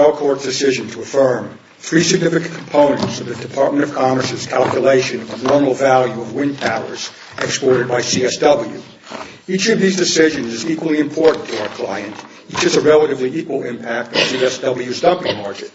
The Court's decision to affirm three significant components of the Department of Commerce's calculation of the normal value of wind powers exported by CSW. Each of these decisions is equally important to our client. Each has a relatively equal impact on CSW's dumping margin.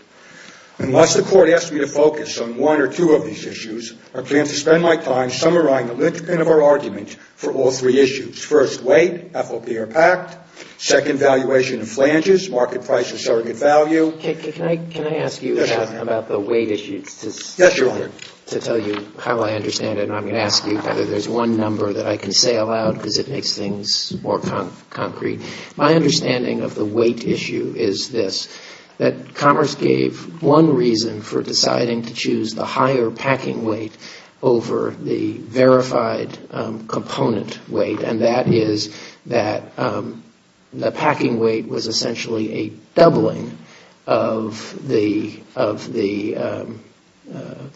Unless the Court asks me to focus on one or two of these issues, I plan to spend my time summarizing the linchpin of our argument for all three issues. First, weight, FOP or PACT. Second, valuation of flanges, market price or surrogate value. Can I ask you about the weight issue to tell you how I understand it? And I'm going to ask you whether there's one number that I can say aloud because it makes things more concrete. My understanding of the weight issue is this, that Commerce gave one reason for the verified component weight and that is that the packing weight was essentially a doubling of the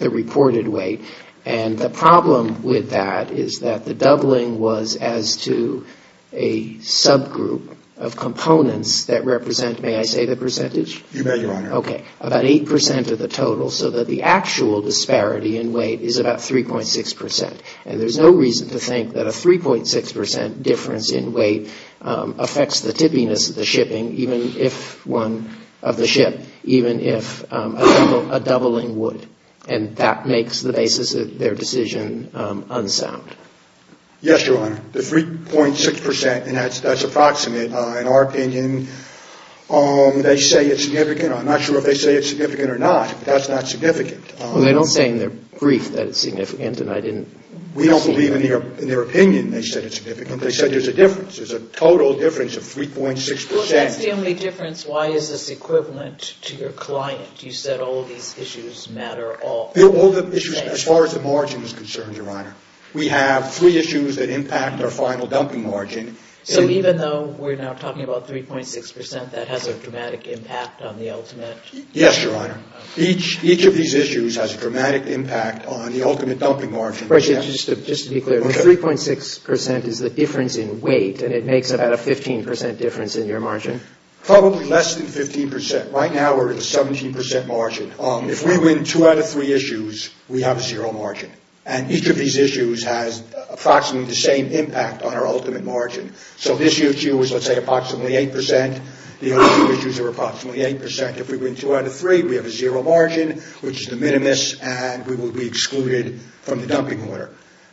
reported weight. And the problem with that is that the doubling was as to a subgroup of components that represent, may I say the percentage? You may, Your Honor. Okay. About 8% of the total so that the actual disparity in weight is about 3.6%. And there's no reason to think that a 3.6% difference in weight affects the tippiness of the shipping even if one of the ship, even if a doubling would. And that makes the basis of their decision unsound. Yes, Your Honor. The 3.6% and that's approximate in our opinion. They say it's significant. I'm not sure if they say it's significant or not, but that's not significant. Well, they don't say in their brief that it's significant and I didn't see it. We don't believe in their opinion they said it's significant. They said there's a difference. There's a total difference of 3.6%. Well, that's the only difference. Why is this equivalent to your client? You said all of these issues matter all. All the issues as far as the margin is concerned, Your Honor. We have three issues that impact our final dumping margin. So even though we're now talking about 3.6%, that has a dramatic impact on the ultimate? Yes, Your Honor. Each of these issues has a dramatic impact on the ultimate dumping margin. Just to be clear, the 3.6% is the difference in weight and it makes about a 15% difference in your margin? Probably less than 15%. Right now, we're at a 17% margin. If we win two out of three issues, we have a zero margin. And each of these issues has approximately the same impact on our ultimate margin. So this issue is, let's say, approximately 8%. The other two issues are approximately 8%. If we win two out of three, we have a zero margin, which is the minimus, and we will be excluded from the dumping order.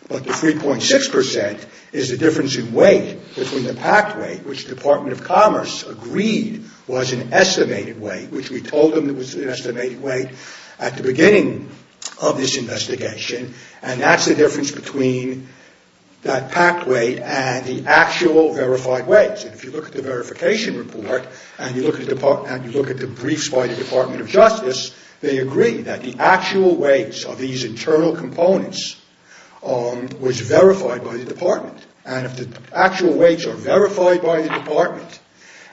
But the 3.6% is the difference in weight between the packed weight, which the Department of Commerce agreed was an estimated weight, which we told them it was an estimated weight at the beginning of this investigation. And that's the difference between that packed weight and the actual verified weight. If you look at the verification report and you look at the briefs by the Department of Justice, they agree that the actual weights of these internal components was verified by the Department. And if the actual weights are verified by the Department,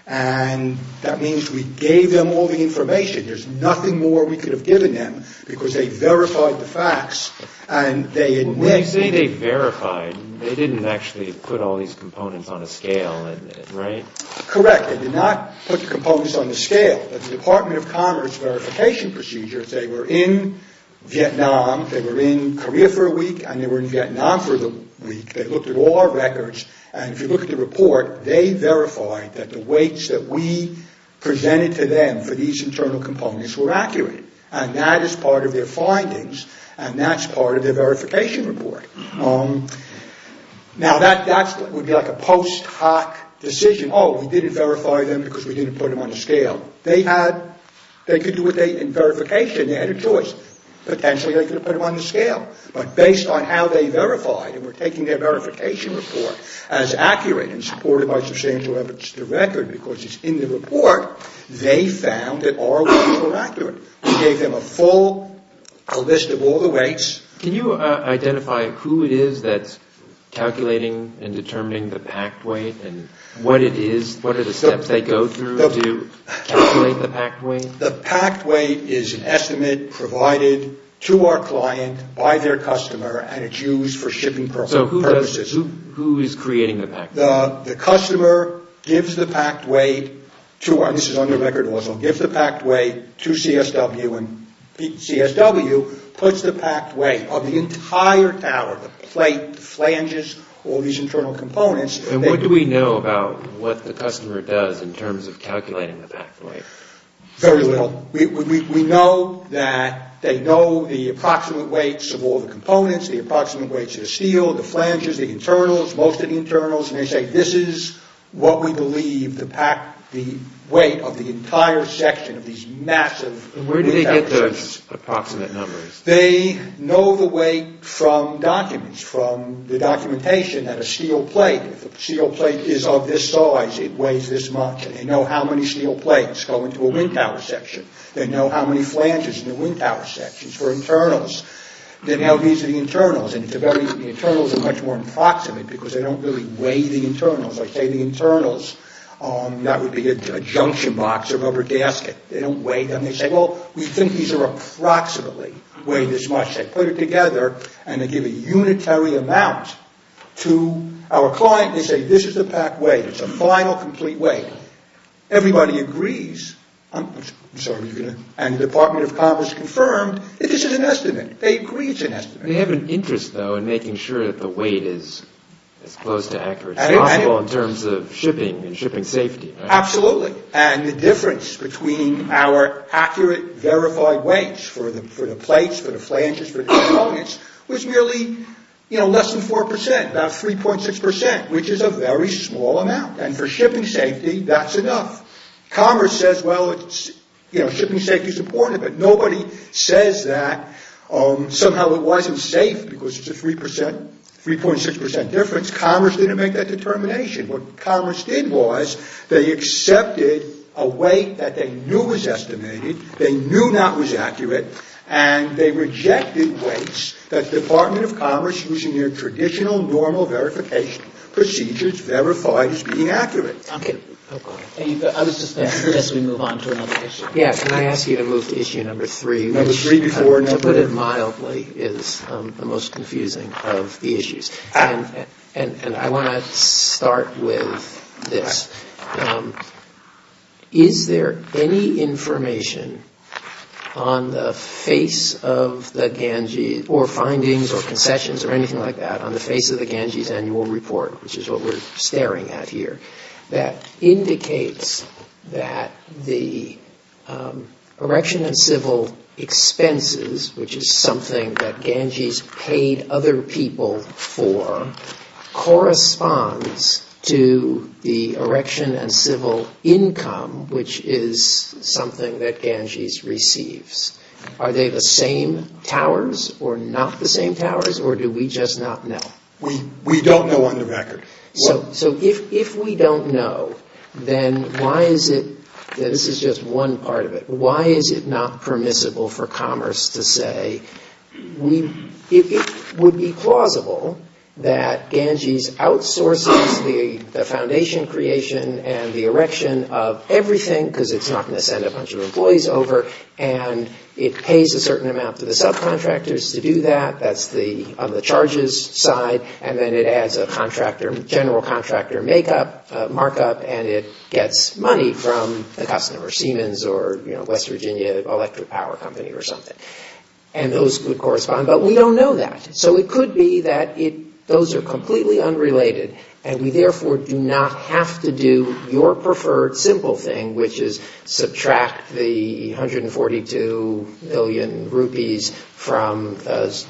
and that means we gave them all the information, there's nothing more we could have given them because they verified the facts. When you say they verified, they didn't actually put all these components on a scale, right? Correct. They did not put the components on the scale. But the Department of Commerce verification procedures, they were in Vietnam, they were in Korea for a week, and they were in Vietnam for the week. They looked at all our records. And if you look at the report, they verified that the weights that we presented to them for these internal components were accurate. And that is part of their findings. And that's part of their verification report. Now, that would be like a post hoc decision. Oh, we didn't verify them because we didn't put them on a scale. They had, they could do what they, in verification, they had a choice. Potentially they could have put them on the scale. But based on how they verified and were taking their verification report as accurate and supported by substantial evidence to record, because it's in the report, they found that our weights were accurate. We gave them a full, a list of all the weights. Can you identify who it is that's calculating and determining the packed weight and what it is, what are the steps they go through to calculate the packed weight? The packed weight is an estimate provided to our client by their customer and it's used So who is creating the packed weight? The customer gives the packed weight to our, this is under record also, gives the packed weight to CSW and CSW puts the packed weight of the entire tower, the plate, the flanges, all these internal components. And what do we know about what the customer does in terms of calculating the packed weight? Very little. We know that they know the approximate weights of all the components, the This is what we believe the packed, the weight of the entire section of these massive Where do they get those approximate numbers? They know the weight from documents, from the documentation at a steel plate. If a steel plate is of this size, it weighs this much. They know how many steel plates go into a wind tower section. They know how many flanges in the wind tower sections for internals. They know these are the internals and the internals are much more approximate because they don't really weigh the internals. I say the internals, that would be a junction box or rubber gasket. They don't weigh them. They say, well, we think these are approximately weigh this much. They put it together and they give a unitary amount to our client. They say, this is the packed weight. It's a final complete weight. Everybody agrees. And the Department of Commerce confirmed that this is an estimate. They agree it's an estimate. They have an interest, though, in making sure that the weight is as close to accurate as possible in terms of shipping and shipping safety. Absolutely. And the difference between our accurate, verified weights for the plates, for the flanges, for the components was really less than 4%, about 3.6%, which is a very small amount. And for shipping safety, that's enough. Commerce says, well, shipping safety is important, but nobody says that. Somehow it wasn't safe because it's a 3%, 3.6% difference. Commerce didn't make that determination. What Commerce did was they accepted a weight that they knew was estimated, they knew not was accurate, and they rejected weights that the Department of Commerce, using their traditional normal verification procedures, verified as being accurate. Okay. I was just going to suggest we move on to another issue. Yeah. Can I ask you to move to issue number three? Number three before number three. To put it mildly is the most confusing of the issues. And I want to start with this. Is there any information on the face of the Ganges, or findings or concessions or anything like that, on the face of the Ganges Annual Report, which is what we're staring at here, that indicates that the erection and civil expenses, which is something that Ganges paid other people for, corresponds to the erection and civil income, which is something that Ganges receives. Are they the same towers or not the same towers, or do we just not know? We don't know on the record. So if we don't know, then why is it, this is just one part of it, why is it not permissible for Commerce to say, it would be plausible that Ganges outsources the foundation creation and the erection of everything, because it's not going to send a bunch of employees over, and it pays a certain amount to the subcontractors to do that, that's on the charges side, and then it adds a general contractor markup, and it gets money from the customer, Siemens or West Virginia Electric Power Company or something. And those would correspond, but we don't know that. So it could be that those are completely unrelated, and we therefore do not have to do your preferred simple thing, which is subtract the 142 billion rupees from the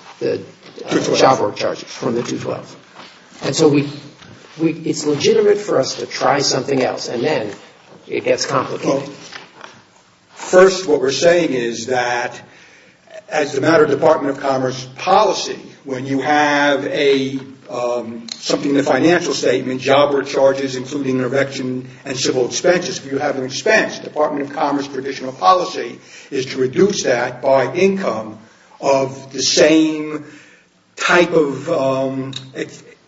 job work charges, from the 212. And so it's legitimate for us to try something else, and then it gets complicated. First, what we're saying is that as a matter of Department of Commerce policy, when you have something in the financial statement, job work charges, including erection and civil expenses, if you have an expense, Department of Commerce traditional policy is to reduce that by income of the same type of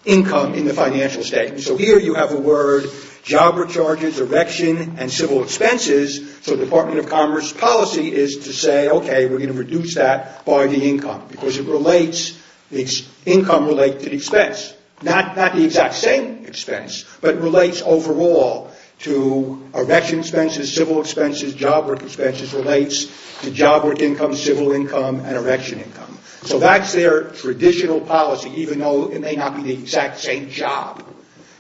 income in the financial statement. So here you have a word, job work charges, erection, and civil expenses, so Department of Commerce policy is to say, okay, we're going to reduce that by the income, because it relates, the income relates to the expense. Not the exact same expense, but relates overall to erection expenses, civil expenses, job work expenses, relates to job work income, civil income, and erection income. So that's their traditional policy, even though it may not be the exact same job,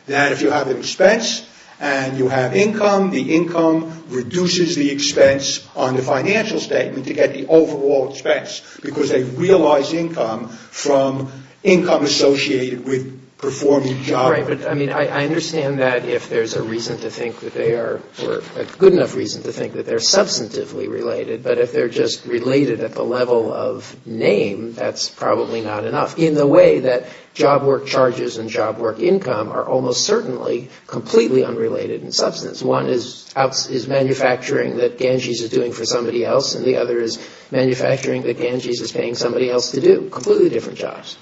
that if you have an expense, and you have income, the income reduces the expense on the financial statement to get the overall expense, because they realize income from income associated with performing job work. Right, but I mean, I understand that if there's a reason to think that they are, or a good enough reason to think that they're substantively related, but if they're just related at the level of name, that's probably not enough. In the way that job work charges and job work income are almost certainly completely unrelated in substance. One is manufacturing that Ganges is doing for somebody else, and the other is manufacturing that Ganges is paying somebody else to do. Completely different jobs.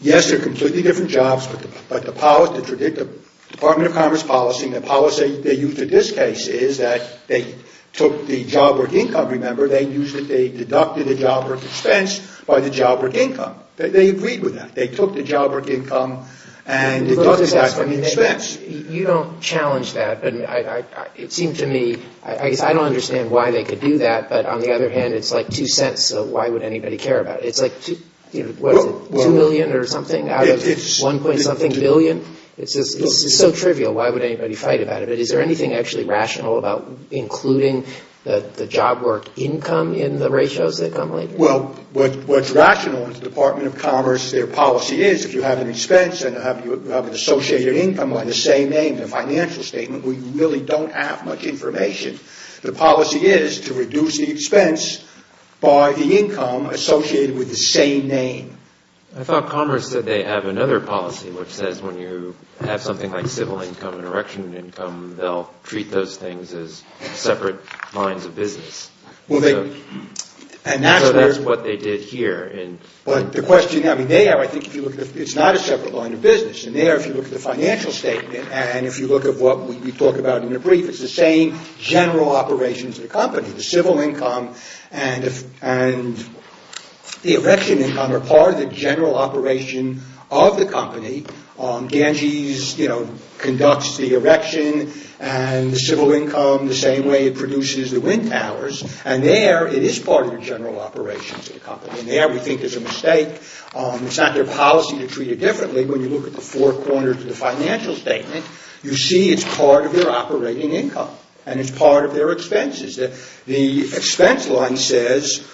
Yes, they're completely different jobs, but the policy, the Department of Commerce policy, the policy they used in this case is that they took the job work income, remember, they used it, they deducted the job work expense by the job work income. They agreed with that. They took the job work income and deducted that from the expense. You don't challenge that, but it seemed to me, I guess I don't understand why they could do that, but on the other hand, it's like 2 cents, so why would anybody care about it? It's like 2 million or something out of 1 point something billion. It's so trivial. Why would anybody fight about it? Is there anything actually rational about including the job work income in the ratios that come later? Well, what's rational in the Department of Commerce, their policy is if you have an expense and you have an associated income on the same name, the financial statement, we really don't have much information. The policy is to reduce the expense by the income associated with the same name. I thought Commerce said they have another policy which says when you have something like civil income and erection income, they'll treat those things as separate lines of business. So that's what they did here. But the question, I mean, they have, I think if you look, it's not a separate line of business, and there if you look at the financial statement and if you look at what we talk about in the brief, it's the same general operations of the company. The civil income and the erection income are part of the general operation of the company. Ganges conducts the erection and the civil income the same way it produces the wind towers, and there it is part of the general operations of the company. And there we think there's a mistake. It's not their policy to treat it differently. When you look at the four corners of the financial statement, you see it's part of their operating income and it's part of their expenses. The expense line says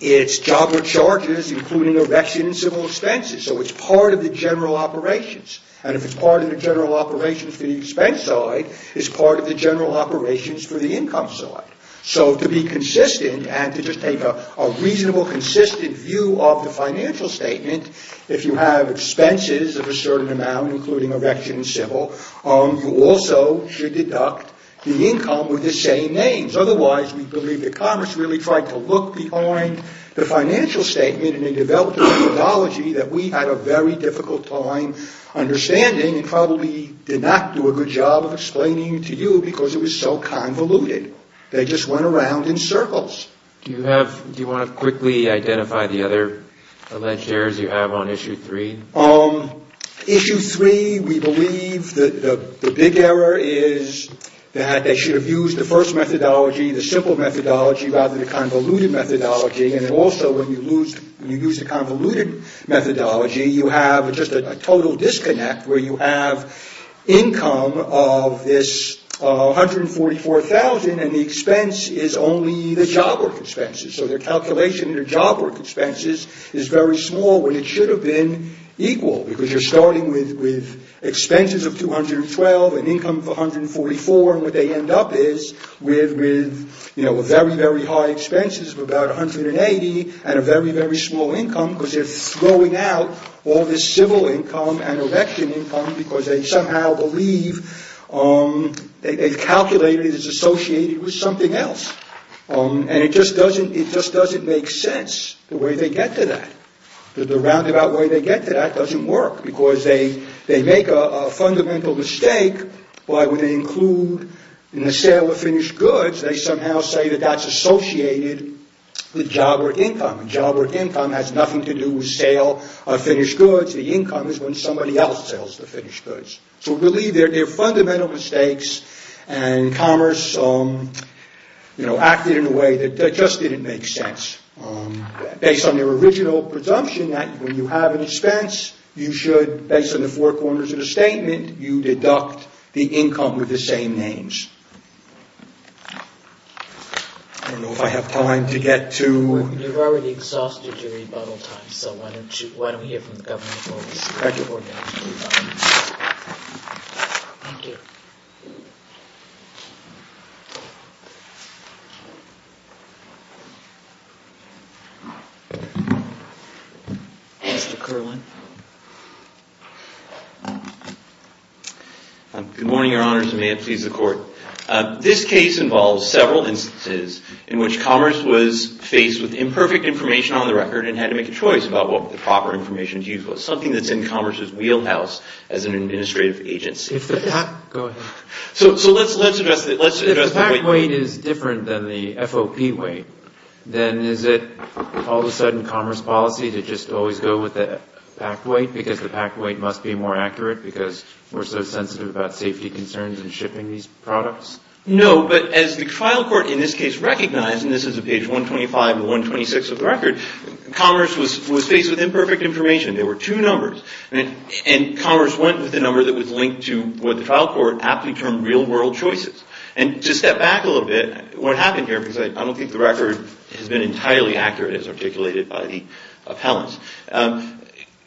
it's job or charges including erection and civil expenses. So it's part of the general operations. And if it's part of the general operations for the expense side, it's part of the general operations for the income side. So to be consistent and to just take a reasonable, consistent view of the financial statement, if you have expenses of a certain amount including erection and civil, you also should deduct the income with the same names. Otherwise, we believe the Commerce really tried to look behind the financial statement and they developed a methodology that we had a very difficult time understanding and probably did not do a good job of explaining to you because it was so convoluted. They just went around in circles. Do you want to quickly identify the other alleged errors you have on Issue 3? Issue 3, we believe the big error is that they should have used the first methodology, the simple methodology rather than the convoluted methodology. And also when you use the convoluted methodology, you have just a total disconnect where you have income of this $144,000 and the expense is only the job work expenses. So their calculation of their job work expenses is very small when it should have been equal because you're starting with expenses of $212,000 and income of $144,000. What they end up is with very, very high expenses of about $180,000 and a very, very small income because they're throwing out all this civil income and election income because they somehow believe they've calculated it's associated with something else. And it just doesn't make sense the way they get to that. The roundabout way they get to that doesn't work because they make a fundamental mistake by when they include in the sale of finished goods, they somehow say that that's associated with job work income. Job work income has nothing to do with sale of finished goods. The income is when somebody else sells the finished goods. So really they're fundamental mistakes and commerce acted in a way that just didn't make sense. Based on their original presumption that when you have an expense, you should, based on the four corners of the statement, you deduct the income with the same names. I don't know if I have time to get to... You've already exhausted your rebuttal time. So why don't we hear from the Governor before we move on. Thank you. Mr. Kerlin. Good morning, Your Honors, and may it please the Court. This case involves several instances in which commerce was faced with imperfect information on the record and had to make a choice about what the proper information to use was, something that's in commerce's wheelhouse as an administrative agency. So let's address that. If the pack weight is different than the FOP weight, then is it all of a sudden commerce policy to just always go with the pack weight because the pack weight must be more accurate because we're so sensitive about safety concerns and shipping these products? No, but as the trial court in this case recognized, and this is at page 125 and 126 of the record, commerce was faced with imperfect information. There were two numbers. And commerce went with the number that was linked to what the trial court aptly termed real-world choices. And to step back a little bit, what happened here, because I don't think the record has been entirely accurate as articulated by the appellants,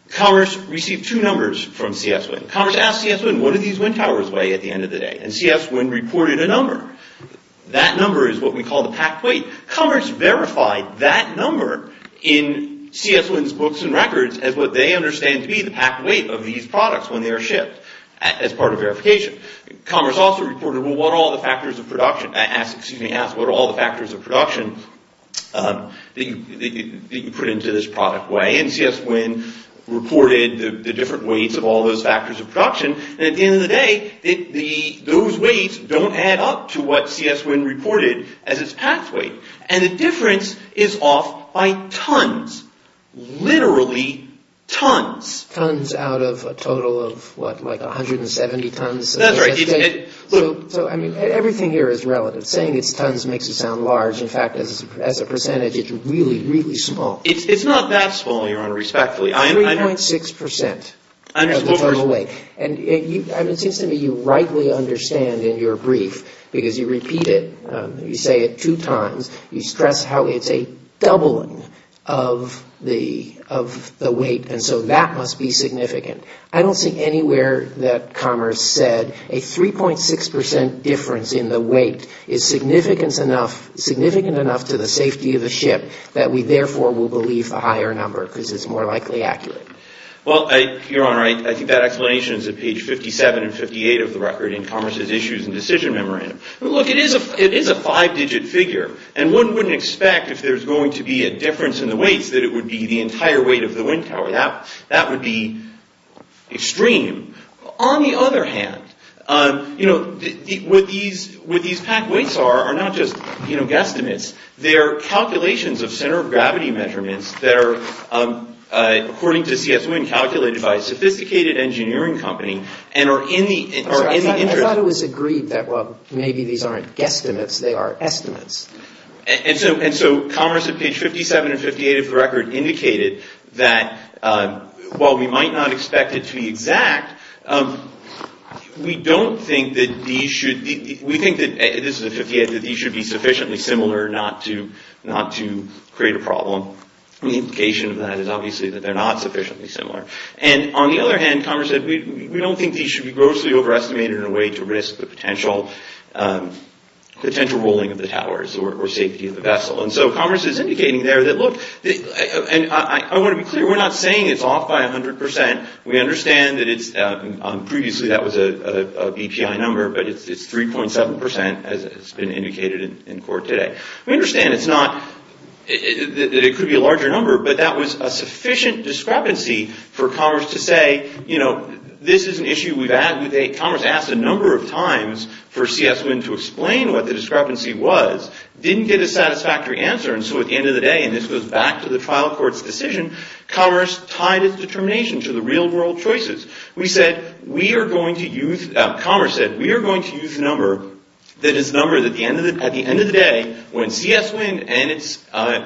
commerce received two numbers from C.S. Wynn. Commerce asked C.S. Wynn, what do these wind towers weigh at the end of the day? And C.S. Wynn reported a number. That number is what we call the pack weight. Commerce verified that number in C.S. Wynn's books and records as what they understand to be the pack weight of these products when they are shipped as part of verification. Commerce also reported, well, what are all the factors of production that you put into this product weigh? And C.S. Wynn reported the different weights of all those factors of production. And at the end of the day, those weights don't add up to what C.S. Wynn reported as its pack weight. And the difference is off by tons, literally tons. Tons out of a total of, what, like 170 tons? That's right. So, I mean, everything here is relative. Saying it's tons makes it sound large. In fact, as a percentage, it's really, really small. It's not that small, Your Honor, respectfully. 3.6% of the total weight. And it seems to me you rightly understand in your brief, because you repeat it, you say it two times, you stress how it's a doubling of the weight, and so that must be significant. I don't see anywhere that Commerce said a 3.6% difference in the weight is significant enough to the safety of the ship that we therefore will believe the higher number, because it's more likely accurate. Well, Your Honor, I think that explanation is at page 57 and 58 of the record in Commerce's Issues and Decision Memorandum. Look, it is a five-digit figure, and one wouldn't expect, if there's going to be a difference in the weights, that it would be the entire weight of the wind tower. That would be extreme. On the other hand, what these packed weights are are not just guesstimates. They're calculations of center of gravity measurements that are, according to C.S. Wynn, calculated by a sophisticated engineering company and are in the interest. I thought it was agreed that, well, maybe these aren't guesstimates, they are estimates. And so Commerce at page 57 and 58 of the record indicated that, while we might not expect it to be exact, we think that these should be sufficiently similar not to create a problem. The implication of that is obviously that they're not sufficiently similar. And on the other hand, Commerce said we don't think these should be grossly overestimated in a way to risk the potential rolling of the towers or safety of the vessel. And so Commerce is indicating there that, look, and I want to be clear, we're not saying it's off by 100%. We understand that it's, previously that was a BPI number, but it's 3.7%, as it's been indicated in court today. We understand it's not, that it could be a larger number, but that was a sufficient discrepancy for Commerce to say, you know, this is an issue we've had, Commerce asked a number of times for CS Wind to explain what the discrepancy was, didn't get a satisfactory answer, and so at the end of the day, and this goes back to the trial court's decision, Commerce tied its determination to the real world choices. We said, we are going to use, Commerce said, we are going to use a number that is numbered at the end of the day when CS Wind and its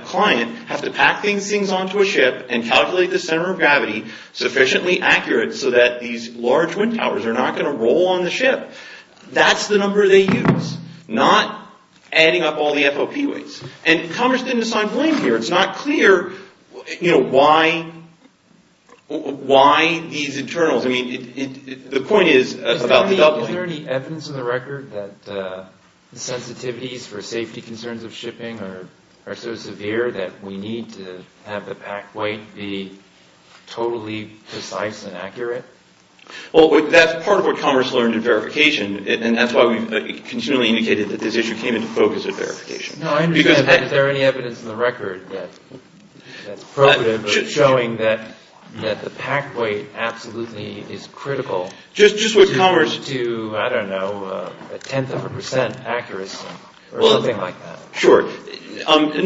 client have to pack these things onto a ship and calculate the center of gravity sufficiently accurate so that these large wind towers are not going to roll on the ship. That's the number they use, not adding up all the FOP weights, and Commerce didn't assign blame here. It's not clear, you know, why these internals, I mean, the point is about the doubling. Is there any evidence in the record that the sensitivities for safety concerns of shipping are so severe that we need to have the pack weight be totally precise and accurate? Well, that's part of what Commerce learned in verification, and that's why we continually indicated that this issue came into focus at verification. No, I understand, but is there any evidence in the record that's showing that the pack weight absolutely is critical to, I don't know, a tenth of a percent accuracy or something like that? Sure, not in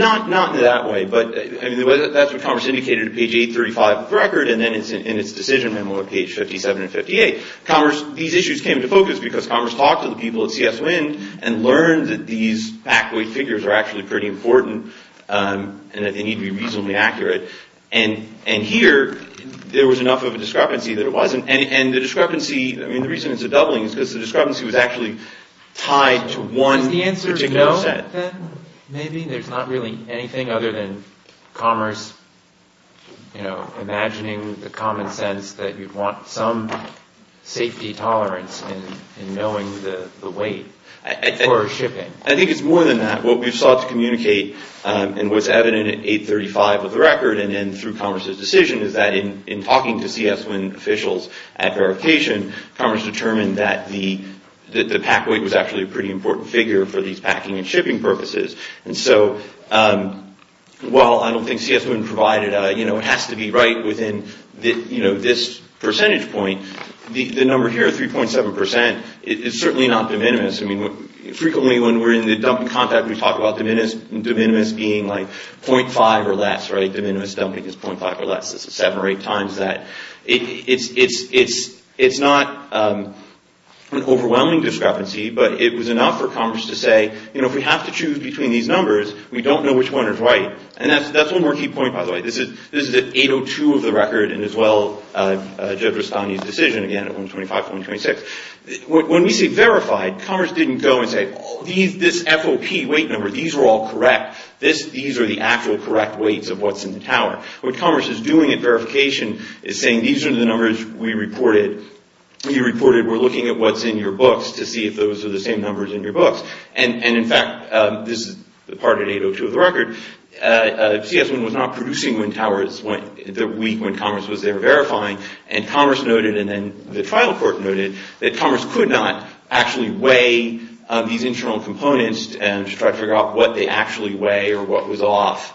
that way, but that's what Commerce indicated at page 835 of the record, and then it's in its decision memo at page 57 and 58. These issues came into focus because Commerce talked to the people at CS Wind and learned that these pack weight figures are actually pretty important and that they need to be reasonably accurate. And here, there was enough of a discrepancy that it wasn't, and the reason it's a doubling is because the discrepancy was actually tied to one particular set. But then maybe there's not really anything other than Commerce, you know, imagining the common sense that you'd want some safety tolerance in knowing the weight for shipping. I think it's more than that. What we sought to communicate and what's evident at 835 of the record and then through Commerce's decision is that in talking to CS Wind officials at verification, Commerce determined that the pack weight was actually a pretty important figure for these packing and shipping purposes. And so, while I don't think CS Wind provided a, you know, it has to be right within this percentage point, the number here, 3.7%, it's certainly not de minimis. I mean, frequently when we're in the dumping compact, we talk about de minimis being like .5 or less, right? De minimis dumping is .5 or less. This is seven or eight times that. It's not an overwhelming discrepancy, but it was enough for Commerce to say, you know, if we have to choose between these numbers, we don't know which one is right. And that's one more key point, by the way. This is at 802 of the record and as well, Jeff Rustani's decision again at 125, 126. When we say verified, Commerce didn't go and say, oh, this FOP weight number, these are all correct. These are the actual correct weights of what's in the tower. What Commerce is doing at verification is saying these are the numbers we reported. We reported we're looking at what's in your books to see if those are the same numbers in your books. And in fact, this is the part at 802 of the record, CS Wind was not producing wind towers the week when Commerce was there verifying. And Commerce noted, and then the trial court noted, that Commerce could not actually weigh these internal components to try to figure out what they actually weigh or what was off.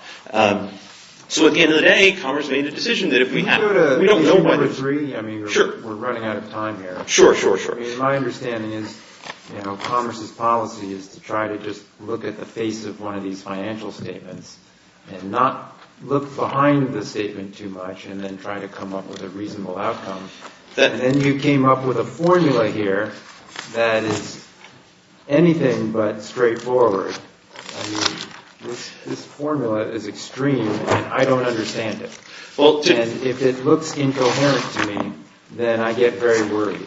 So at the end of the day, Commerce made a decision that if we have to, we don't know what. Sure. We're running out of time here. Sure, sure, sure. My understanding is, you know, Commerce's policy is to try to just look at the face of one of these financial statements and not look behind the statement too much and then try to come up with a reasonable outcome. Then you came up with a formula here that is anything but straightforward. I mean, this formula is extreme and I don't understand it. And if it looks incoherent to me, then I get very worried.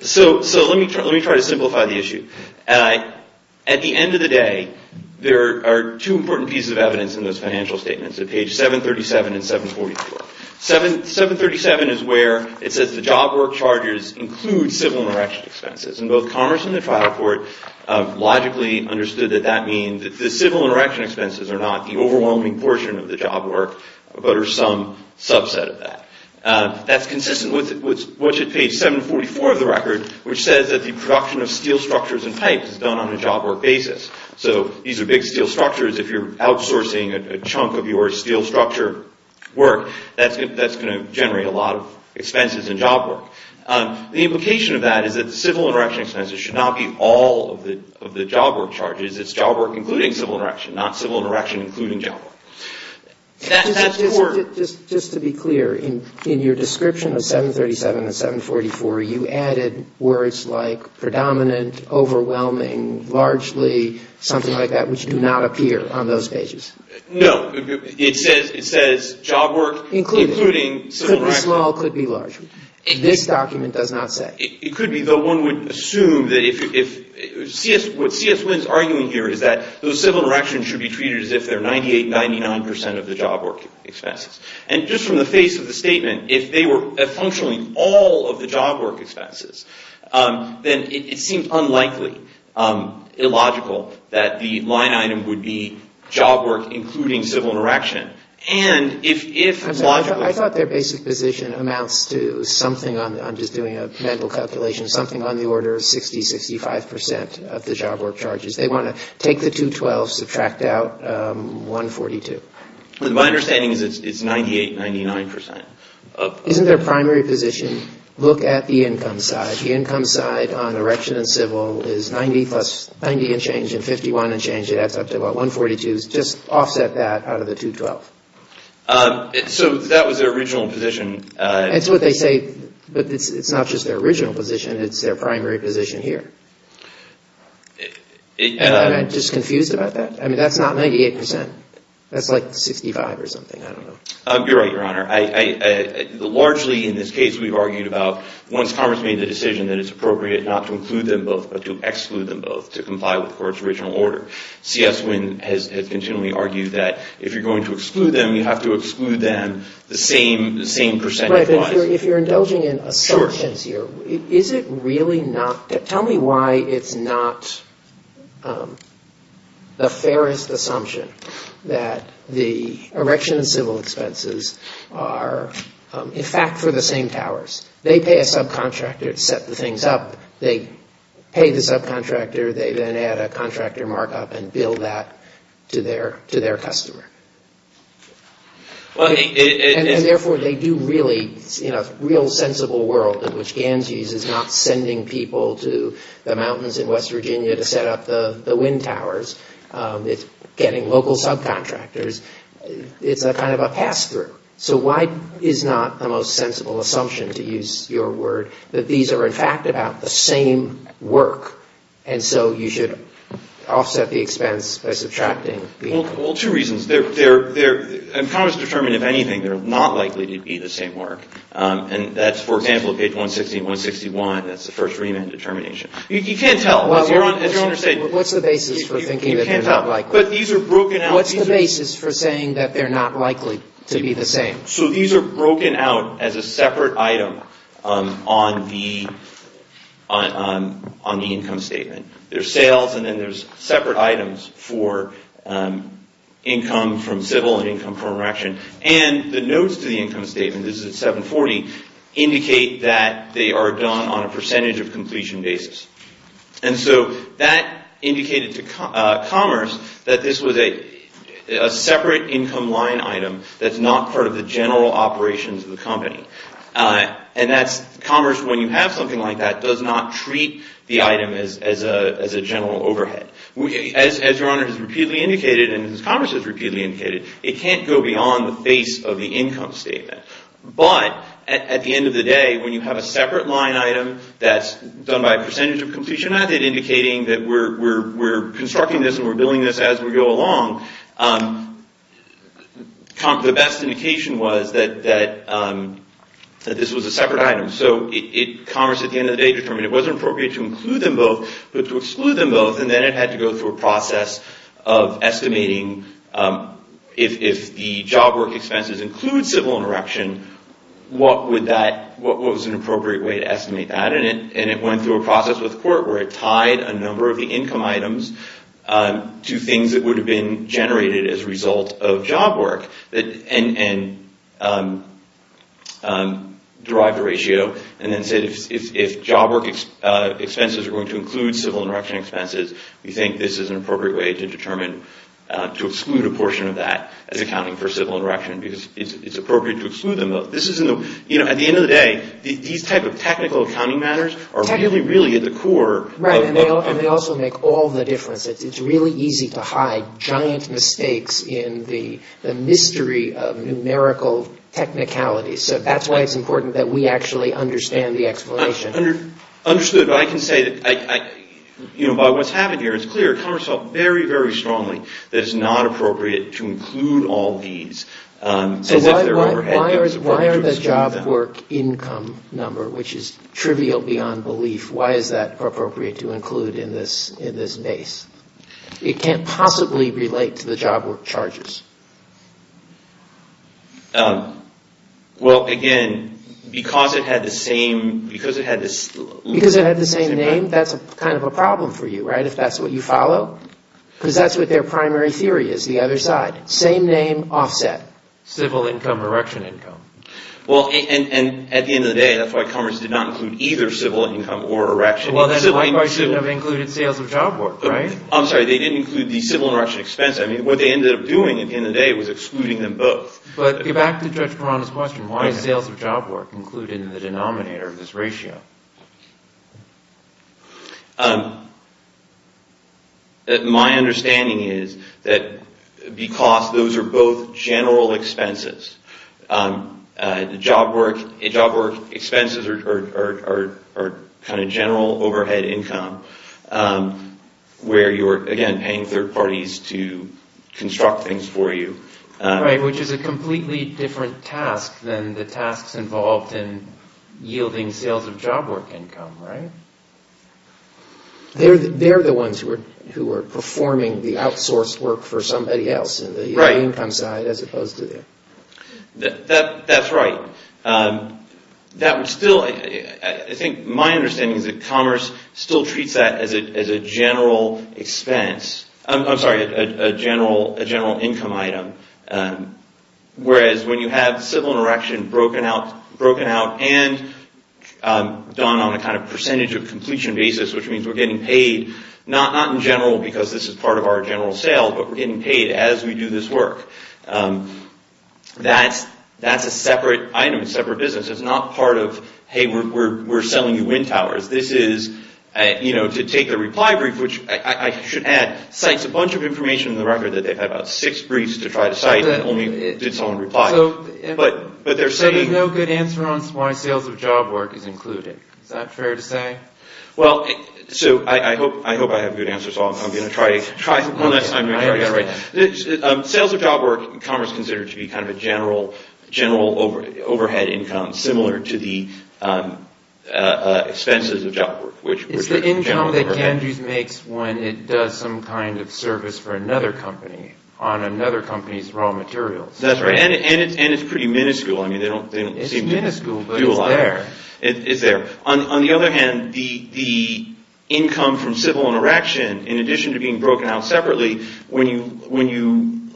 So let me try to simplify the issue. At the end of the day, there are two important pieces of evidence in those financial statements, at page 737 and 744. 737 is where it says the job work charges include civil and erection expenses. And both Commerce and the Trial Court have logically understood that that means that the civil and erection expenses are not the overwhelming portion of the job work, but are some subset of that. That's consistent with what's at page 744 of the record, which says that the production of steel structures and pipes is done on a job work basis. So these are big steel structures. If you're outsourcing a chunk of your steel structure work, that's going to generate a lot of expenses and job work. The implication of that is that the civil and erection expenses should not be all of the job work charges. It's job work including civil and erection, not civil and erection including job work. That's poor. Just to be clear, in your description of 737 and 744, you added words like predominant, overwhelming, largely something like that, which do not appear on those pages. No. It says job work including civil and erection. This document does not say. It could be, though one would assume that if CS, what CS Wynn's arguing here is that those civil and erection should be treated as if they're 98, 99 percent of the job work expenses. And just from the face of the statement, if they were functionally all of the job work expenses, then it seems unlikely, illogical, that the line item would be job work including civil and erection. I thought their basic position amounts to something on, I'm just doing a mental calculation, something on the order of 60, 65 percent of the job work charges. They want to take the 212, subtract out 142. My understanding is it's 98, 99 percent. Isn't their primary position, look at the income side. The income side on erection and civil is 90 plus, 90 and change, and 51 and change, it adds up to about 142, just offset that out of the 212. So that was their original position. That's what they say, but it's not just their original position. It's their primary position here. I'm just confused about that. I mean, that's not 98 percent. That's like 65 or something. I don't know. You're right, Your Honor. Largely in this case, we've argued about once Congress made the decision that it's appropriate not to include them both, but to exclude them both to comply with the Court's original order. C.S. Wynne has continually argued that if you're going to exclude them, you have to exclude them the same percentage-wise. Right. If you're indulging in assumptions here, is it really not? Tell me why it's not the fairest assumption that the erection and civil expenses are, in fact, for the same towers. They pay a subcontractor to set the things up. They pay the subcontractor. They then add a contractor markup and bill that to their customer. And therefore, they do really, in a real sensible world, in which Gansey's is not sending people to the mountains in West Virginia to set up the wind towers. It's getting local subcontractors. It's a kind of a pass-through. So why is not the most sensible assumption, to use your word, that these are, in fact, about the same work? And so you should offset the expense by subtracting the ______. Well, two reasons. Congress determined, if anything, they're not likely to be the same work. And that's, for example, page 160 and 161. That's the first remand determination. You can't tell. What's the basis for thinking that they're not likely? But these are broken-out ______. What's the basis for saying that they're not likely to be the same? So these are broken-out as a separate item on the income statement. There's sales, and then there's separate items for income from civil and income from reaction. And the notes to the income statement, this is at 740, indicate that they are done on a percentage of completion basis. And so that indicated to Commerce that this was a separate income line item that's not part of the general operations of the company. And Commerce, when you have something like that, does not treat the item as a general overhead. As Your Honor has repeatedly indicated, and as Commerce has repeatedly indicated, it can't go beyond the face of the income statement. But at the end of the day, when you have a separate line item that's done by percentage of completion method, indicating that we're constructing this and we're building this as we go along, the best indication was that this was a separate item. So Commerce, at the end of the day, determined it wasn't appropriate to include them both, but to exclude them both. And then it had to go through a process of estimating if the job work expenses include civil and reaction, what was an appropriate way to estimate that? And it went through a process with the court where it tied a number of the income items to things that would have been generated as a result of job work. And derived a ratio and then said if job work expenses are going to include civil and reaction expenses, we think this is an appropriate way to exclude a portion of that as accounting for civil and reaction. Because it's appropriate to exclude them both. At the end of the day, these type of technical accounting matters are really, really at the core. Right. And they also make all the difference. It's really easy to hide giant mistakes in the mystery of numerical technicalities. So that's why it's important that we actually understand the explanation. Understood. But I can say that by what's happened here, it's clear Commerce felt very, very strongly that it's not appropriate to include all these. So why are the job work income number, which is trivial beyond belief, why is that appropriate to include in this base? It can't possibly relate to the job work charges. Well, again, because it had the same name, that's kind of a problem for you, right, if that's what you follow. Because that's what their primary theory is, the other side. Same name, offset. Civil income, erection income. Well, and at the end of the day, that's why Commerce did not include either civil income or erection. Well, then why shouldn't they have included sales of job work, right? I'm sorry, they didn't include the civil and erection expense. I mean, what they ended up doing at the end of the day was excluding them both. But get back to Judge Perana's question. Why is sales of job work included in the denominator of this ratio? My understanding is that because those are both general expenses, job work expenses are kind of general overhead income, where you're, again, paying third parties to construct things for you. Right, which is a completely different task than the tasks involved in yielding sales of job work. Sales of job work income, right? They're the ones who are performing the outsourced work for somebody else in the income side as opposed to them. That's right. I think my understanding is that Commerce still treats that as a general expense. I'm sorry, a general income item. Whereas when you have civil and erection broken out and done on a kind of percentage of completion basis, which means we're getting paid, not in general because this is part of our general sale, but we're getting paid as we do this work. That's a separate item, separate business. It's not part of, hey, we're selling you wind towers. This is, you know, to take the reply brief, which I should add, cites a bunch of information in the record that they've had about six briefs to try to cite and only did someone reply. So there's no good answer on why sales of job work is included. Is that fair to say? Well, so I hope I have a good answer, so I'm going to try one last time. Sales of job work, Commerce considers to be kind of a general overhead income, similar to the expenses of job work, which are general overhead. Like Andrews makes when it does some kind of service for another company on another company's raw materials. That's right, and it's pretty minuscule. I mean, they don't seem to do a lot. It's minuscule, but it's there. It's there. On the other hand, the income from civil and erection, in addition to being broken out separately, when you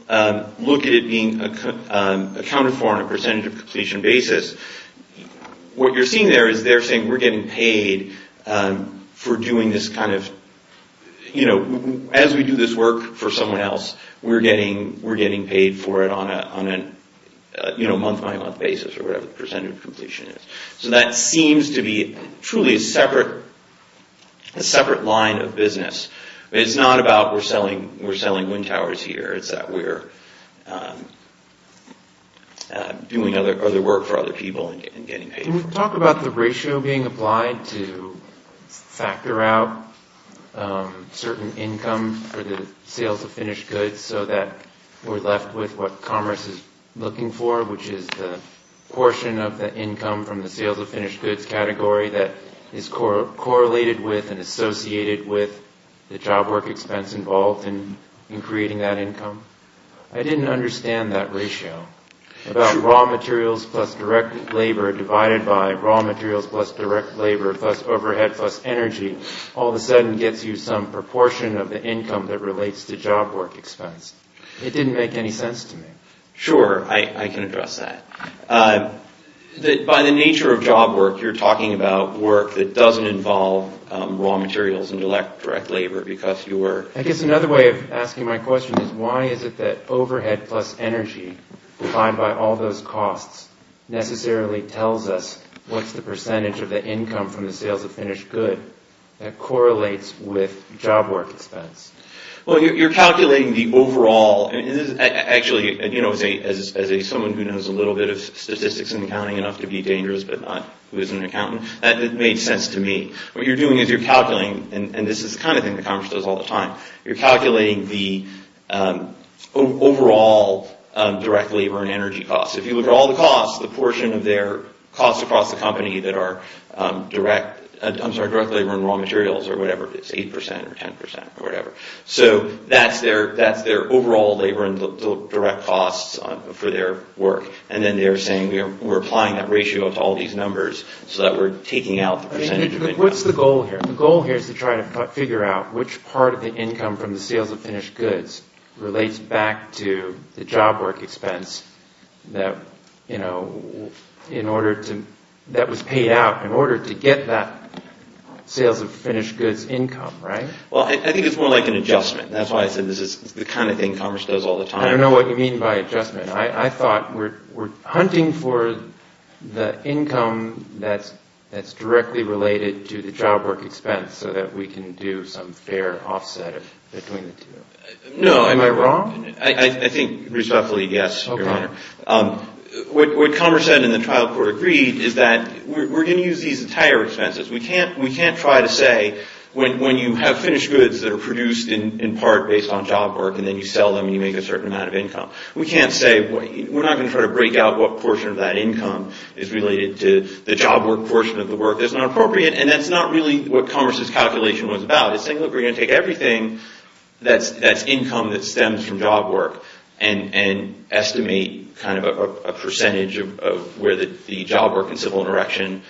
look at it being accounted for on a percentage of completion basis, what you're seeing there is they're saying we're getting paid for doing this kind of, as we do this work for someone else, we're getting paid for it on a month-by-month basis, or whatever the percentage of completion is. So that seems to be truly a separate line of business. It's not about we're selling wind towers here. It's that we're doing other work for other people and getting paid for it. Can we talk about the ratio being applied to factor out certain income for the sales of finished goods so that we're left with what Commerce is looking for, which is the portion of the income from the sales of finished goods category that is correlated with and associated with the job work expense involved in creating that income? I didn't understand that ratio. About raw materials plus direct labor divided by raw materials plus direct labor plus overhead plus energy all of a sudden gets you some proportion of the income that relates to job work expense. It didn't make any sense to me. Sure, I can address that. By the nature of job work, you're talking about work that doesn't involve raw materials and direct labor. I guess another way of asking my question is why is it that overhead plus energy divided by all those costs necessarily tells us what's the percentage of the income from the sales of finished goods that correlates with job work expense? You're calculating the overall. Actually, as someone who knows a little bit of statistics and accounting enough to be dangerous but not who is an accountant, that made sense to me. What you're doing is you're calculating, and this is the kind of thing that Commerce does all the time, you're calculating the overall direct labor and energy costs. If you look at all the costs, the portion of their costs across the company that are direct labor and raw materials or whatever it is, 8% or 10% or whatever. That's their overall labor and direct costs for their work. Then they're saying we're applying that ratio to all these numbers so that we're taking out the percentage of income. What's the goal here? The goal here is to try to figure out which part of the income from the sales of finished goods relates back to the job work expense that was paid out. In order to get that sales of finished goods income, right? Well, I think it's more like an adjustment. That's why I said this is the kind of thing Commerce does all the time. I don't know what you mean by adjustment. I thought we're hunting for the income that's directly related to the job work expense so that we can do some fair offset between the two. No. Am I wrong? I think respectfully, yes, Your Honor. Okay. What Commerce said and the trial court agreed is that we're going to use these entire expenses. We can't try to say when you have finished goods that are produced in part based on job work and then you sell them and you make a certain amount of income. We can't say we're not going to try to break out what portion of that income is related to the job work portion of the work that's not appropriate and that's not really what Commerce's calculation was about. It's saying look, we're going to take everything that's income that stems from job work and estimate kind of a percentage of where the job work and civil interaction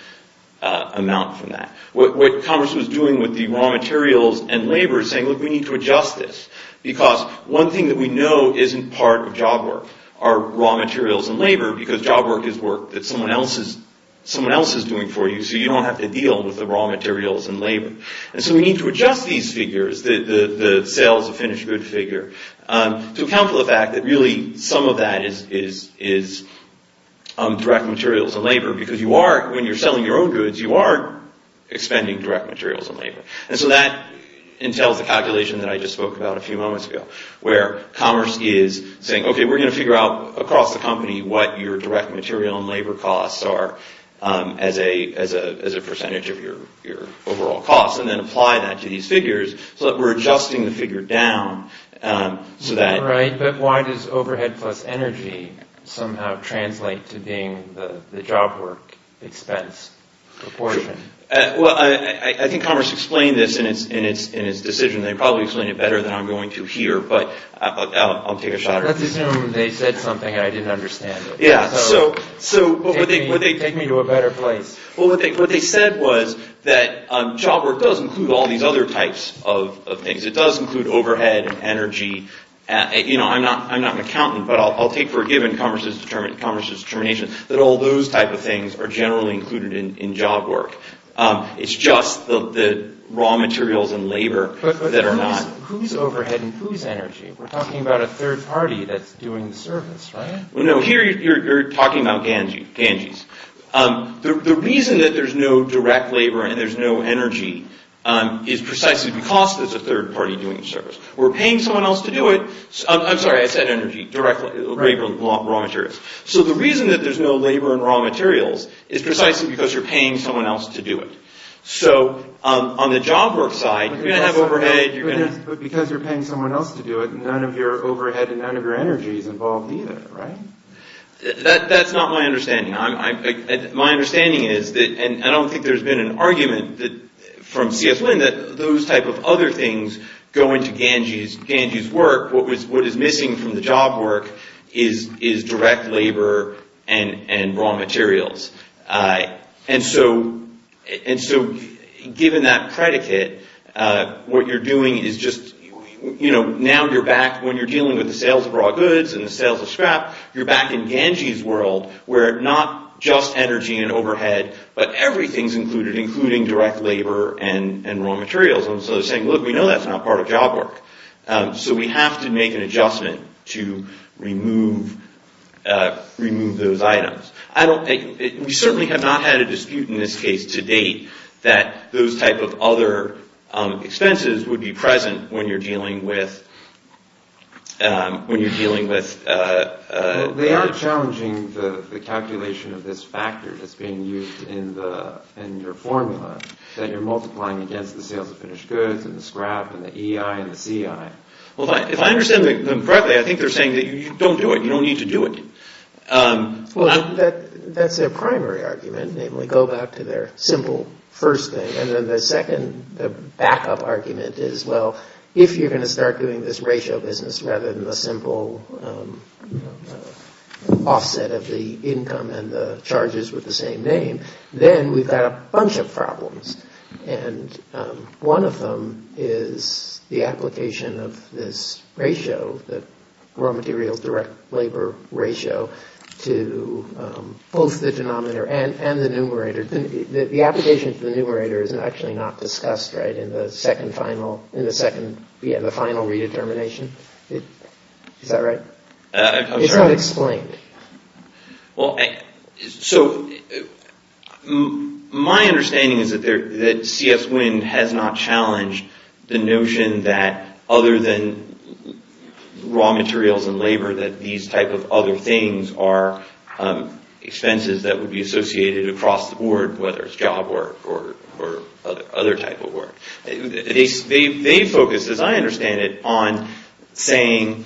amount from that. What Commerce was doing with the raw materials and labor is saying look, we need to adjust this because one thing that we know isn't part of job work are raw materials and labor because job work is work that someone else is doing for you so you don't have to deal with the raw materials and labor. So we need to adjust these figures, the sales of finished goods figure, to account for the fact that really some of that is direct materials and labor because you are, when you're selling your own goods, you are expending direct materials and labor. And so that entails the calculation that I just spoke about a few moments ago where Commerce is saying okay, we're going to figure out across the company what your direct material and labor costs are as a percentage of your overall costs and then apply that to these figures so that we're adjusting the figure down so that... Right, but why does overhead plus energy somehow translate to being the job work expense proportion? Well, I think Commerce explained this in its decision. They probably explained it better than I'm going to here, but I'll take a shot at it. Let's assume they said something and I didn't understand it. Yeah, so... Take me to a better place. Well, what they said was that job work does include all these other types of things. It does include overhead and energy. I'm not an accountant, but I'll take for a given Commerce's determination that all those type of things are generally included in job work. It's just the raw materials and labor that are not... But who's overhead and who's energy? We're talking about a third party that's doing the service, right? No, here you're talking about Ganges. The reason that there's no direct labor and there's no energy is precisely because there's a third party doing the service. We're paying someone else to do it. I'm sorry, I said energy, direct labor and raw materials. So the reason that there's no labor and raw materials is precisely because you're paying someone else to do it. So on the job work side, you're going to have overhead... But because you're paying someone else to do it, none of your overhead and none of your energy is involved either, right? That's not my understanding. My understanding is that... And I don't think there's been an argument from CS Lin that those type of other things go into Ganges' work. What is missing from the job work is direct labor and raw materials. And so given that predicate, what you're doing is just... Now you're back when you're dealing with the sales of raw goods and the sales of scrap, you're back in Ganges' world where not just energy and overhead, but everything's included, including direct labor and raw materials. And so they're saying, look, we know that's not part of job work. So we have to make an adjustment to remove those items. We certainly have not had a dispute in this case to date that those type of other expenses would be present when you're dealing with... They are challenging the calculation of this factor that's being used in your formula, that you're multiplying against the sales of finished goods and the scrap and the EI and the CI. Well, if I understand them correctly, I think they're saying that you don't do it. You don't need to do it. Well, that's their primary argument, namely. Go back to their simple first thing. And then the second, the backup argument is, well, if you're going to start doing this ratio business rather than the simple offset of the income and the charges with the same name, then we've got a bunch of problems. And one of them is the application of this ratio, the raw materials direct labor ratio, to both the denominator and the numerator. The application to the numerator is actually not discussed, right, in the final redetermination. Is that right? It's not explained. Well, so my understanding is that CF's wind has not challenged the notion that other than raw materials and labor that these type of other things are expenses that would be associated across the board, whether it's job work or other type of work. They focus, as I understand it, on saying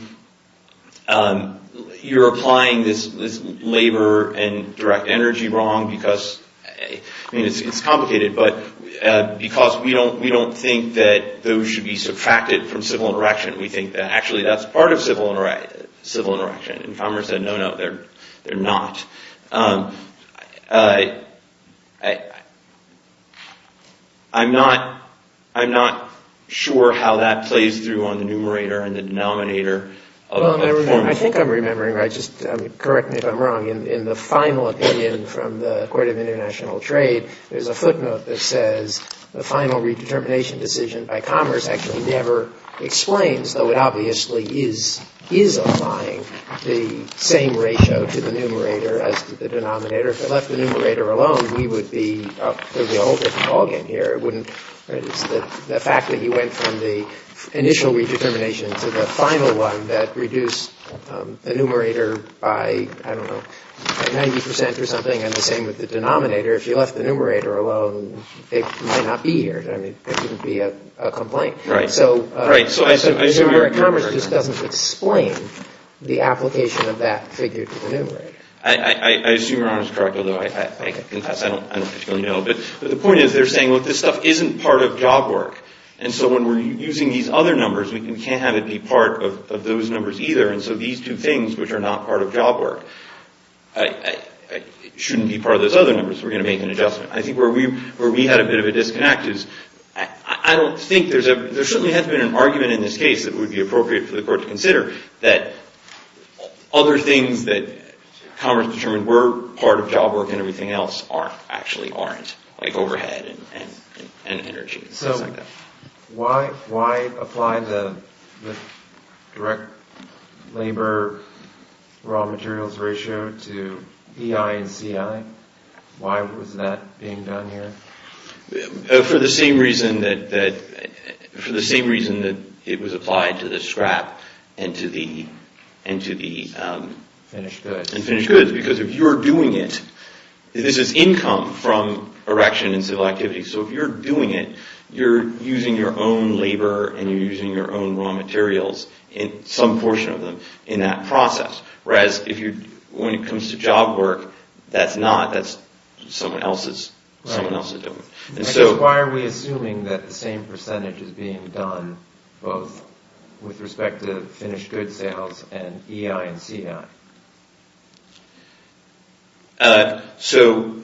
you're applying this labor and direct energy wrong because, I mean, it's complicated, but because we don't think that those should be subtracted from civil interaction. We think that actually that's part of civil interaction. And Commer said, no, no, they're not. I'm not sure how that plays through on the numerator and the denominator. Well, I think I'm remembering. Correct me if I'm wrong. In the final opinion from the Court of International Trade, there's a footnote that says the final redetermination decision by Commerce actually never explains, as though it obviously is applying the same ratio to the numerator as to the denominator. If it left the numerator alone, we would be a whole different ballgame here. The fact that he went from the initial redetermination to the final one that reduced the numerator by, I don't know, 90 percent or something, and the same with the denominator, if you left the numerator alone, it might not be here. I mean, it wouldn't be a complaint. So I assume Commerce just doesn't explain the application of that figure to the numerator. I assume your Honor is correct, although I confess I don't particularly know. But the point is they're saying, look, this stuff isn't part of job work. And so when we're using these other numbers, we can't have it be part of those numbers either. And so these two things, which are not part of job work, shouldn't be part of those other numbers. We're going to make an adjustment. I think where we had a bit of a disconnect is I don't think there's a... There certainly has been an argument in this case that would be appropriate for the Court to consider that other things that Commerce determined were part of job work and everything else actually aren't, like overhead and energy. So why apply the direct labor raw materials ratio to EI and CI? Why was that being done here? For the same reason that it was applied to the scrap and to the finished goods. Because if you're doing it, this is income from erection and civil activity. So if you're doing it, you're using your own labor and you're using your own raw materials, some portion of them, in that process. Whereas when it comes to job work, that's not. That's someone else's doing it. So why are we assuming that the same percentage is being done both with respect to finished goods sales and EI and CI? So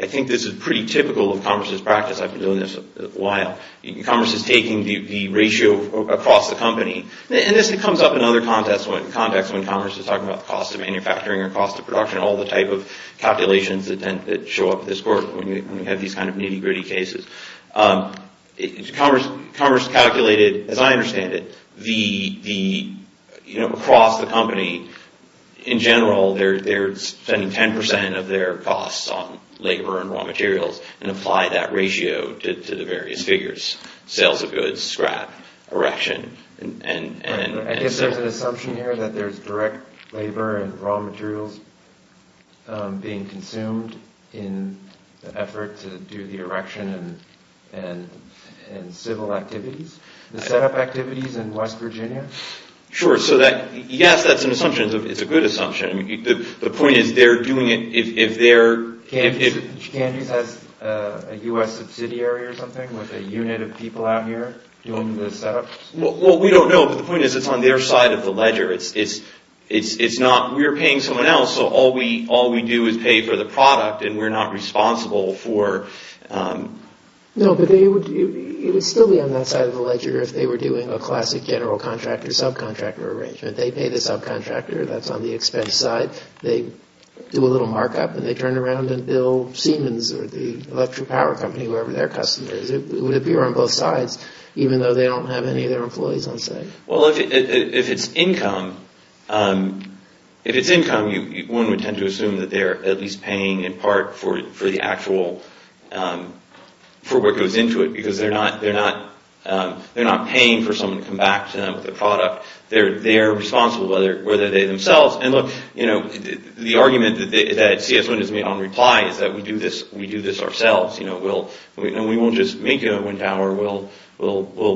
I think this is pretty typical of Commerce's practice. I've been doing this a while. Commerce is taking the ratio across the company. And this comes up in other contexts when Commerce is talking about the cost of manufacturing or cost of production, all the type of calculations that show up this quarter when you have these kind of nitty gritty cases. Commerce calculated, as I understand it, across the company, in general, they're spending 10% of their costs on labor and raw materials and apply that ratio to the various figures, sales of goods, scrap, erection, and so on. I guess there's an assumption here that there's direct labor and raw materials being consumed in the effort to do the erection and civil activities, the setup activities in West Virginia? Sure. Yes, that's an assumption. It's a good assumption. The point is they're doing it if they're... Candies has a U.S. subsidiary or something with a unit of people out here doing the setups? Well, we don't know, but the point is it's on their side of the ledger. We're paying someone else, so all we do is pay for the product and we're not responsible for... No, but it would still be on that side of the ledger if they were doing a classic general contractor, subcontractor arrangement. They pay the subcontractor that's on the expense side. They do a little markup and they turn around and bill Siemens or the electric power company, whoever their customer is. It would appear on both sides even though they don't have any of their employees on site. Well, if it's income, if it's income, one would tend to assume that they're at least paying in part for the actual... for what goes into it because they're not paying for someone to come back to them with a product. They are responsible, whether they themselves... And look, the argument that CS1 has made on reply is that we do this ourselves. We won't just make you a wind tower. We'll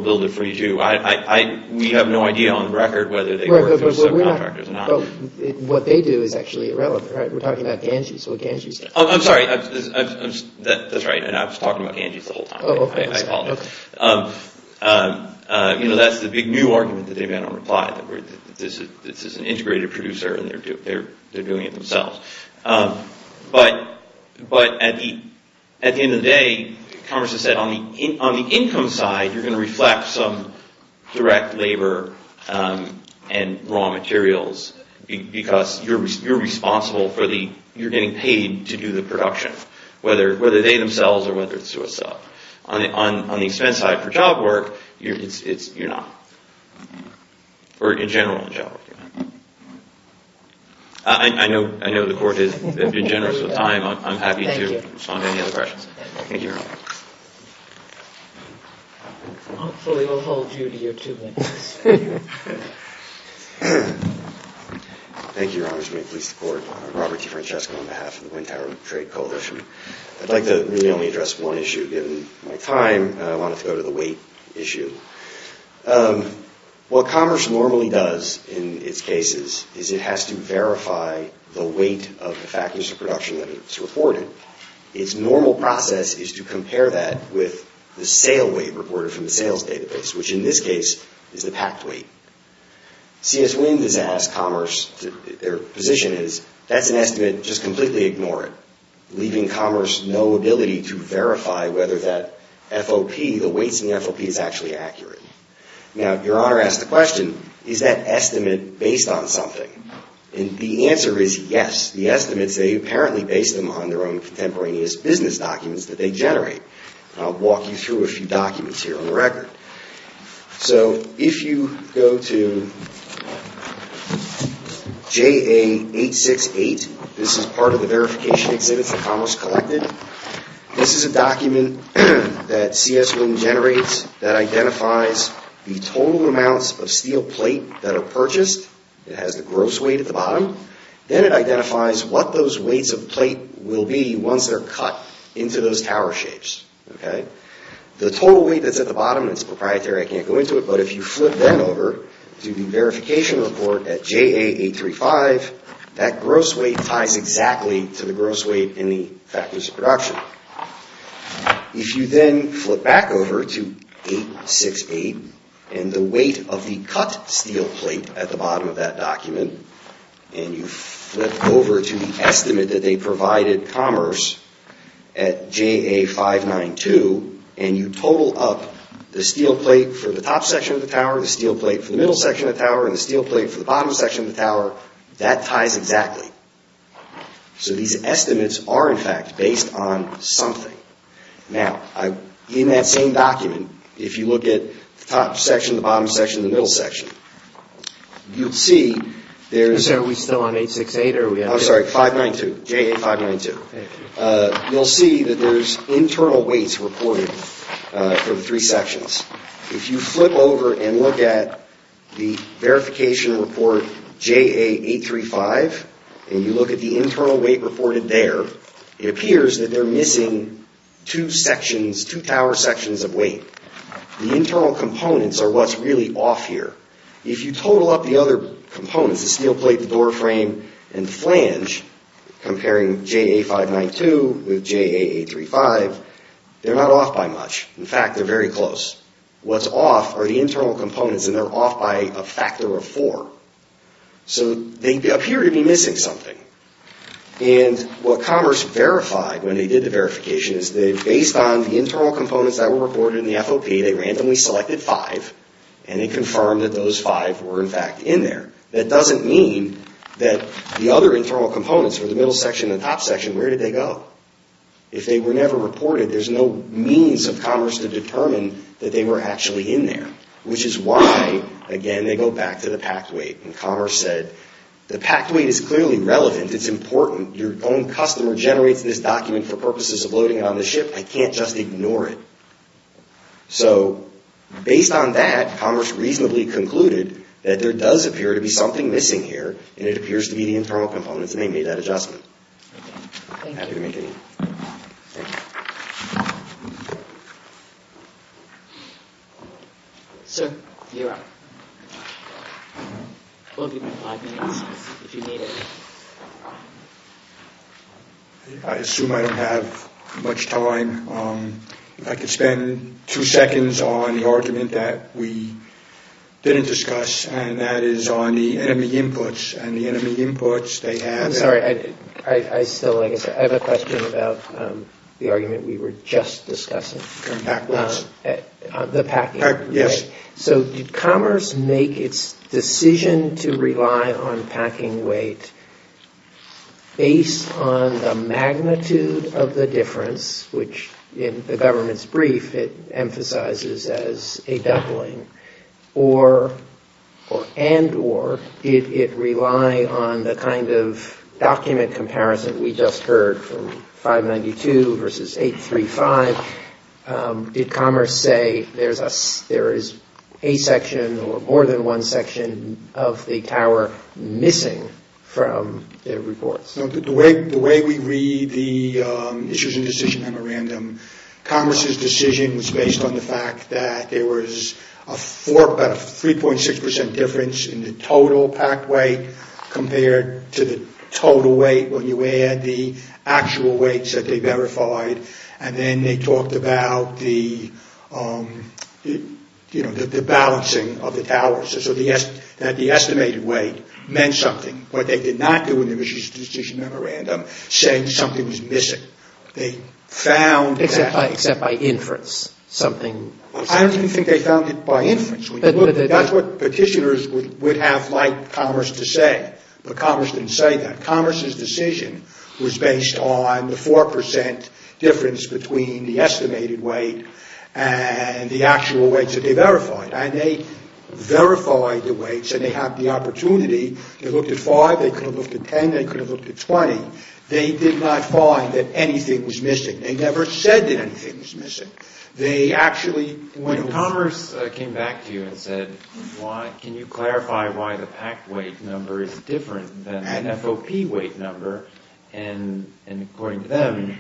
build it for you too. We have no idea on record whether they work for subcontractors or not. But what they do is actually irrelevant, right? We're talking about Ganges. What Ganges... I'm sorry. That's right. And I was talking about Ganges the whole time. Oh, okay. You know, that's the big new argument that they've had on reply that this is an integrated producer and they're doing it themselves. But at the end of the day, Congress has said, on the income side, you're going to reflect some direct labor and raw materials because you're responsible for the... you're getting paid to do the production, whether they themselves or whether it's to a sub. On the expense side for job work, you're not. Or in general in job work, you're not. I know the court has been generous with time. I'm happy to respond to any other questions. Thank you, Your Honor. Hopefully, we'll hold you to your two minutes. Thank you, Your Honor, to make police the court. Robert T. Francesco on behalf of the Wind Tower Trade Coalition. I'd like to really only address one issue. Given my time, I wanted to go to the weight issue. What commerce normally does in its cases is it has to verify the weight of the factors of production that it's reporting. Its normal process is to compare that with the sale weight reported from the sales database, which in this case is the packed weight. CS Wind has asked commerce, their position is, that's an estimate. Just completely ignore it, leaving commerce no ability to verify whether that FOP, the weights in the FOP, is actually accurate. Now, Your Honor asked the question, is that estimate based on something? And the answer is yes. The estimates, they apparently base them on their own contemporaneous business documents that they generate. I'll walk you through a few documents here on the record. So, if you go to JA868, this is part of the verification exhibits that commerce collected. This is a document that CS Wind generates that identifies the total amounts of steel plate that are purchased. It has the gross weight at the bottom. Then it identifies what those weights of plate will be once they're cut into those tower shapes. The total weight that's at the bottom, it's proprietary, I can't go into it, but if you flip them over to the verification report at JA835, that gross weight ties exactly to the gross weight in the factors of production. If you then flip back over to JA868 and the weight of the cut steel plate at the bottom of that document and you flip over to the estimate that they provided commerce at JA592 and you total up the steel plate for the top section of the tower, the steel plate for the middle section of the tower, and the steel plate for the bottom section of the tower, that ties exactly. So these estimates are in fact based on something. Now, in that same document, if you look at the top section, the bottom section, the middle section, you'll see there's... Sir, are we still on 868? I'm sorry, JA592. You'll see that there's internal weights reported for the three sections. If you flip over and look at the verification report JA835 and you look at the internal weight reported there, it appears that they're missing two sections, two tower sections of weight. The internal components are what's really off here. If you total up the other components, the steel plate, the door frame, and flange, comparing JA592 with JA835, they're not off by much. In fact, they're very close. What's off are the internal components and they're off by a factor of four. So they appear to be missing something. And what commerce verified when they did the verification is that based on the internal components that were reported in the FOP, they randomly selected five and they confirmed that those five were, in fact, in there. That doesn't mean that the other internal components for the middle section and the top section, where did they go? If they were never reported, there's no means of commerce to determine that they were actually in there, which is why, again, they go back to the packed weight. And commerce said, the packed weight is clearly relevant. It's important. Your own customer generates this document for purposes of loading it on the ship. I can't just ignore it. So, based on that, commerce reasonably concluded that there does appear to be something missing here and it appears to be the internal components and they made that adjustment. Thank you. Sir, you're up. We'll give you five minutes if you need it. I assume I don't have much time. If I could spend two seconds on the argument that we didn't discuss and that is on the enemy inputs and the enemy inputs, they have... I'm sorry. I still, I guess, I have a question about the argument we were just discussing. Backwards. The packing. Yes. So, did commerce make its decision to rely on packing weight based on the magnitude of the difference, which in the government's brief it emphasizes as a doubling, or, and, or, did it rely on the kind of document comparison we just heard from 592 versus 835? Did commerce say there is a section or more than one section of the tower missing from their reports? The way we read the issues and decision memorandum, commerce's decision was based on the fact that there was a 3.6% difference in the total packed weight compared to the total weight when you add the actual weights that they verified and then they talked about the, you know, the balancing of the towers. So, the estimated weight meant something, but they did not do in the mission decision memorandum saying something was missing. They found... Except by inference, something... I don't even think they found it by inference. That's what petitioners would have liked commerce to say, but commerce didn't say that. Commerce's decision was based on the 4% difference between the estimated weight and the actual weights that they verified, and they verified the weights and they had the opportunity. They looked at 5, they could have looked at 10, they could have looked at 20. They did not find that anything was missing. They never said that anything was missing. They actually... When commerce came back to you and said, can you clarify why the packed weight number is different than the FOP weight number, and according to them,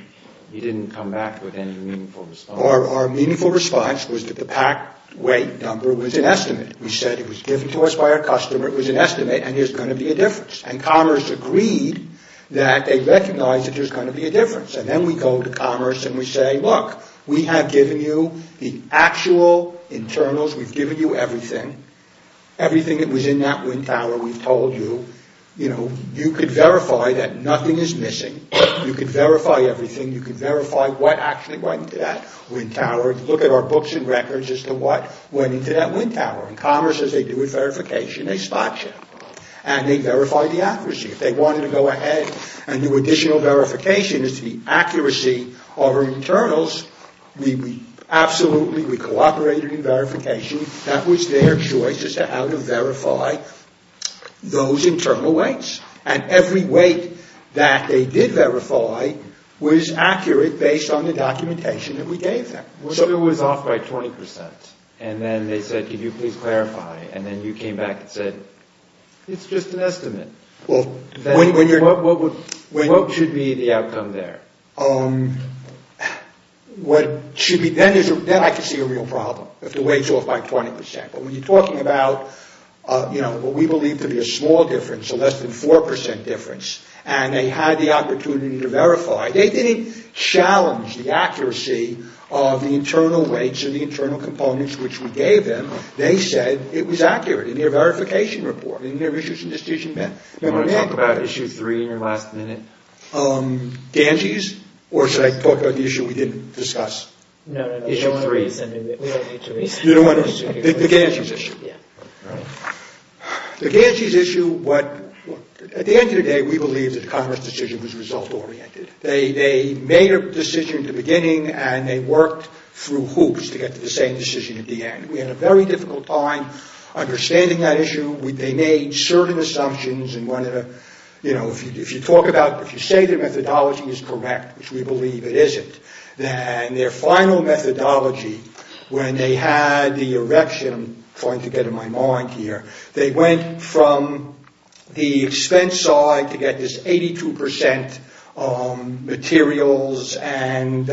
you didn't come back with any meaningful response. Our meaningful response was that the packed weight number was an estimate. We said it was given to us by our customer, it was an estimate, and there's going to be a difference. And commerce agreed that they recognized that there's going to be a difference. And then we go to commerce and we say, look, we have given you the actual internals, we've given you everything, everything that was in that wind tower, we've told you, you know, that nothing is missing, you can verify everything, you can verify what actually went into that wind tower, look at our books and records as to what went into that wind tower. And commerce says they do a verification, they spot you. And they verify the accuracy. If they wanted to go ahead and do additional verification as to the accuracy of our internals, we absolutely, we cooperated in verification, that was their choice as to how to verify those internal weights. And every weight that they did verify was accurate based on the documentation that we gave them. So it was off by 20 percent. And then they said, can you please clarify? And then you came back and said, it's just an estimate. What should be the outcome there? What should be, then I could see a real problem if the weight's off by 20 percent. But when you're talking about, you know, what we believe to be a small difference, a less than 4 percent difference, and they had the opportunity to verify, they didn't challenge the accuracy of the internal weights or the internal components which we gave them. They said it was accurate in their verification report, in their issues and decisions. Do you want to talk about Issue 3 in your last minute? Ganges? Or should I talk about the issue we didn't discuss? No, no, no. Issue 3. You don't want to? The Ganges issue. The Ganges issue, at the end of the day, we believe that the Congress decision was result-oriented. They made a decision at the beginning and they worked through hoops to get to the same decision at the end. We had a very difficult time understanding that issue. They made certain assumptions. And, you know, if you talk about, if you say their methodology is correct, which we believe it isn't, then their final methodology, when they had the erection, I'm trying to get in my mind here, they went from the expense side to get this 82% materials and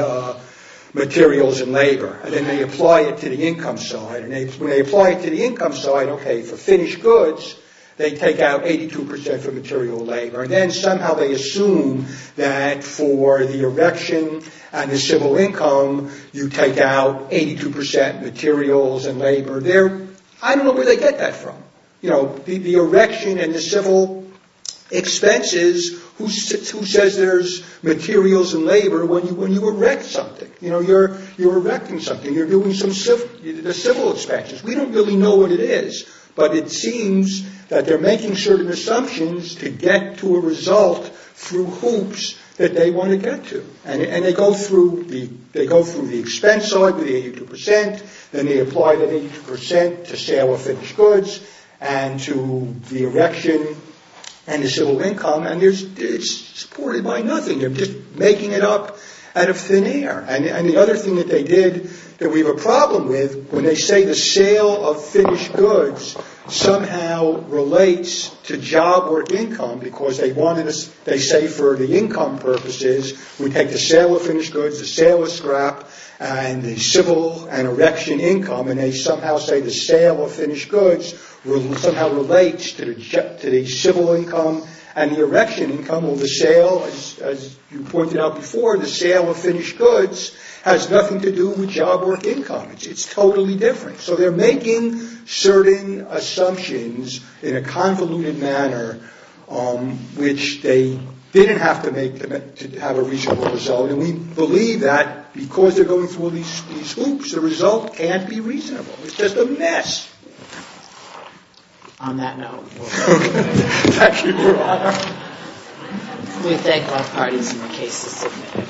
labor. And then they apply it to the income side. And when they apply it to the income side, okay, for finished goods, they take out 82% for material labor. And then somehow they assume that for the erection and the civil income, you take out 82% materials and labor. I don't know where they get that from. You know, the erection and the civil expenses, who says there's materials and labor when you erect something? You know, you're erecting something. You're doing some civil expenses. We don't really know what it is, but it seems that they're making certain assumptions to get to a result through hoops that they want to get to. And they go through the expense side with the 82%. Then they apply the 82% to sale of finished goods and to the erection and the civil income. And it's supported by nothing. They're just making it up out of thin air. And the other thing that they did that we have a problem with, when they say the sale of finished goods somehow relates to job or income because they say for the income purposes, we take the sale of finished goods, the sale of scrap, and the civil and erection income, and they somehow say the sale of finished goods somehow relates to the civil income and the erection income. Well, the sale, as you pointed out before, the sale of finished goods has nothing to do with job or income. It's totally different. So they're making certain assumptions in a convoluted manner which they didn't have to make to have a reasonable result. And we believe that because they're going through all these hoops, the result can't be reasonable. It's just a mess. On that note, thank you, Your Honor. We thank all parties and the cases submitted.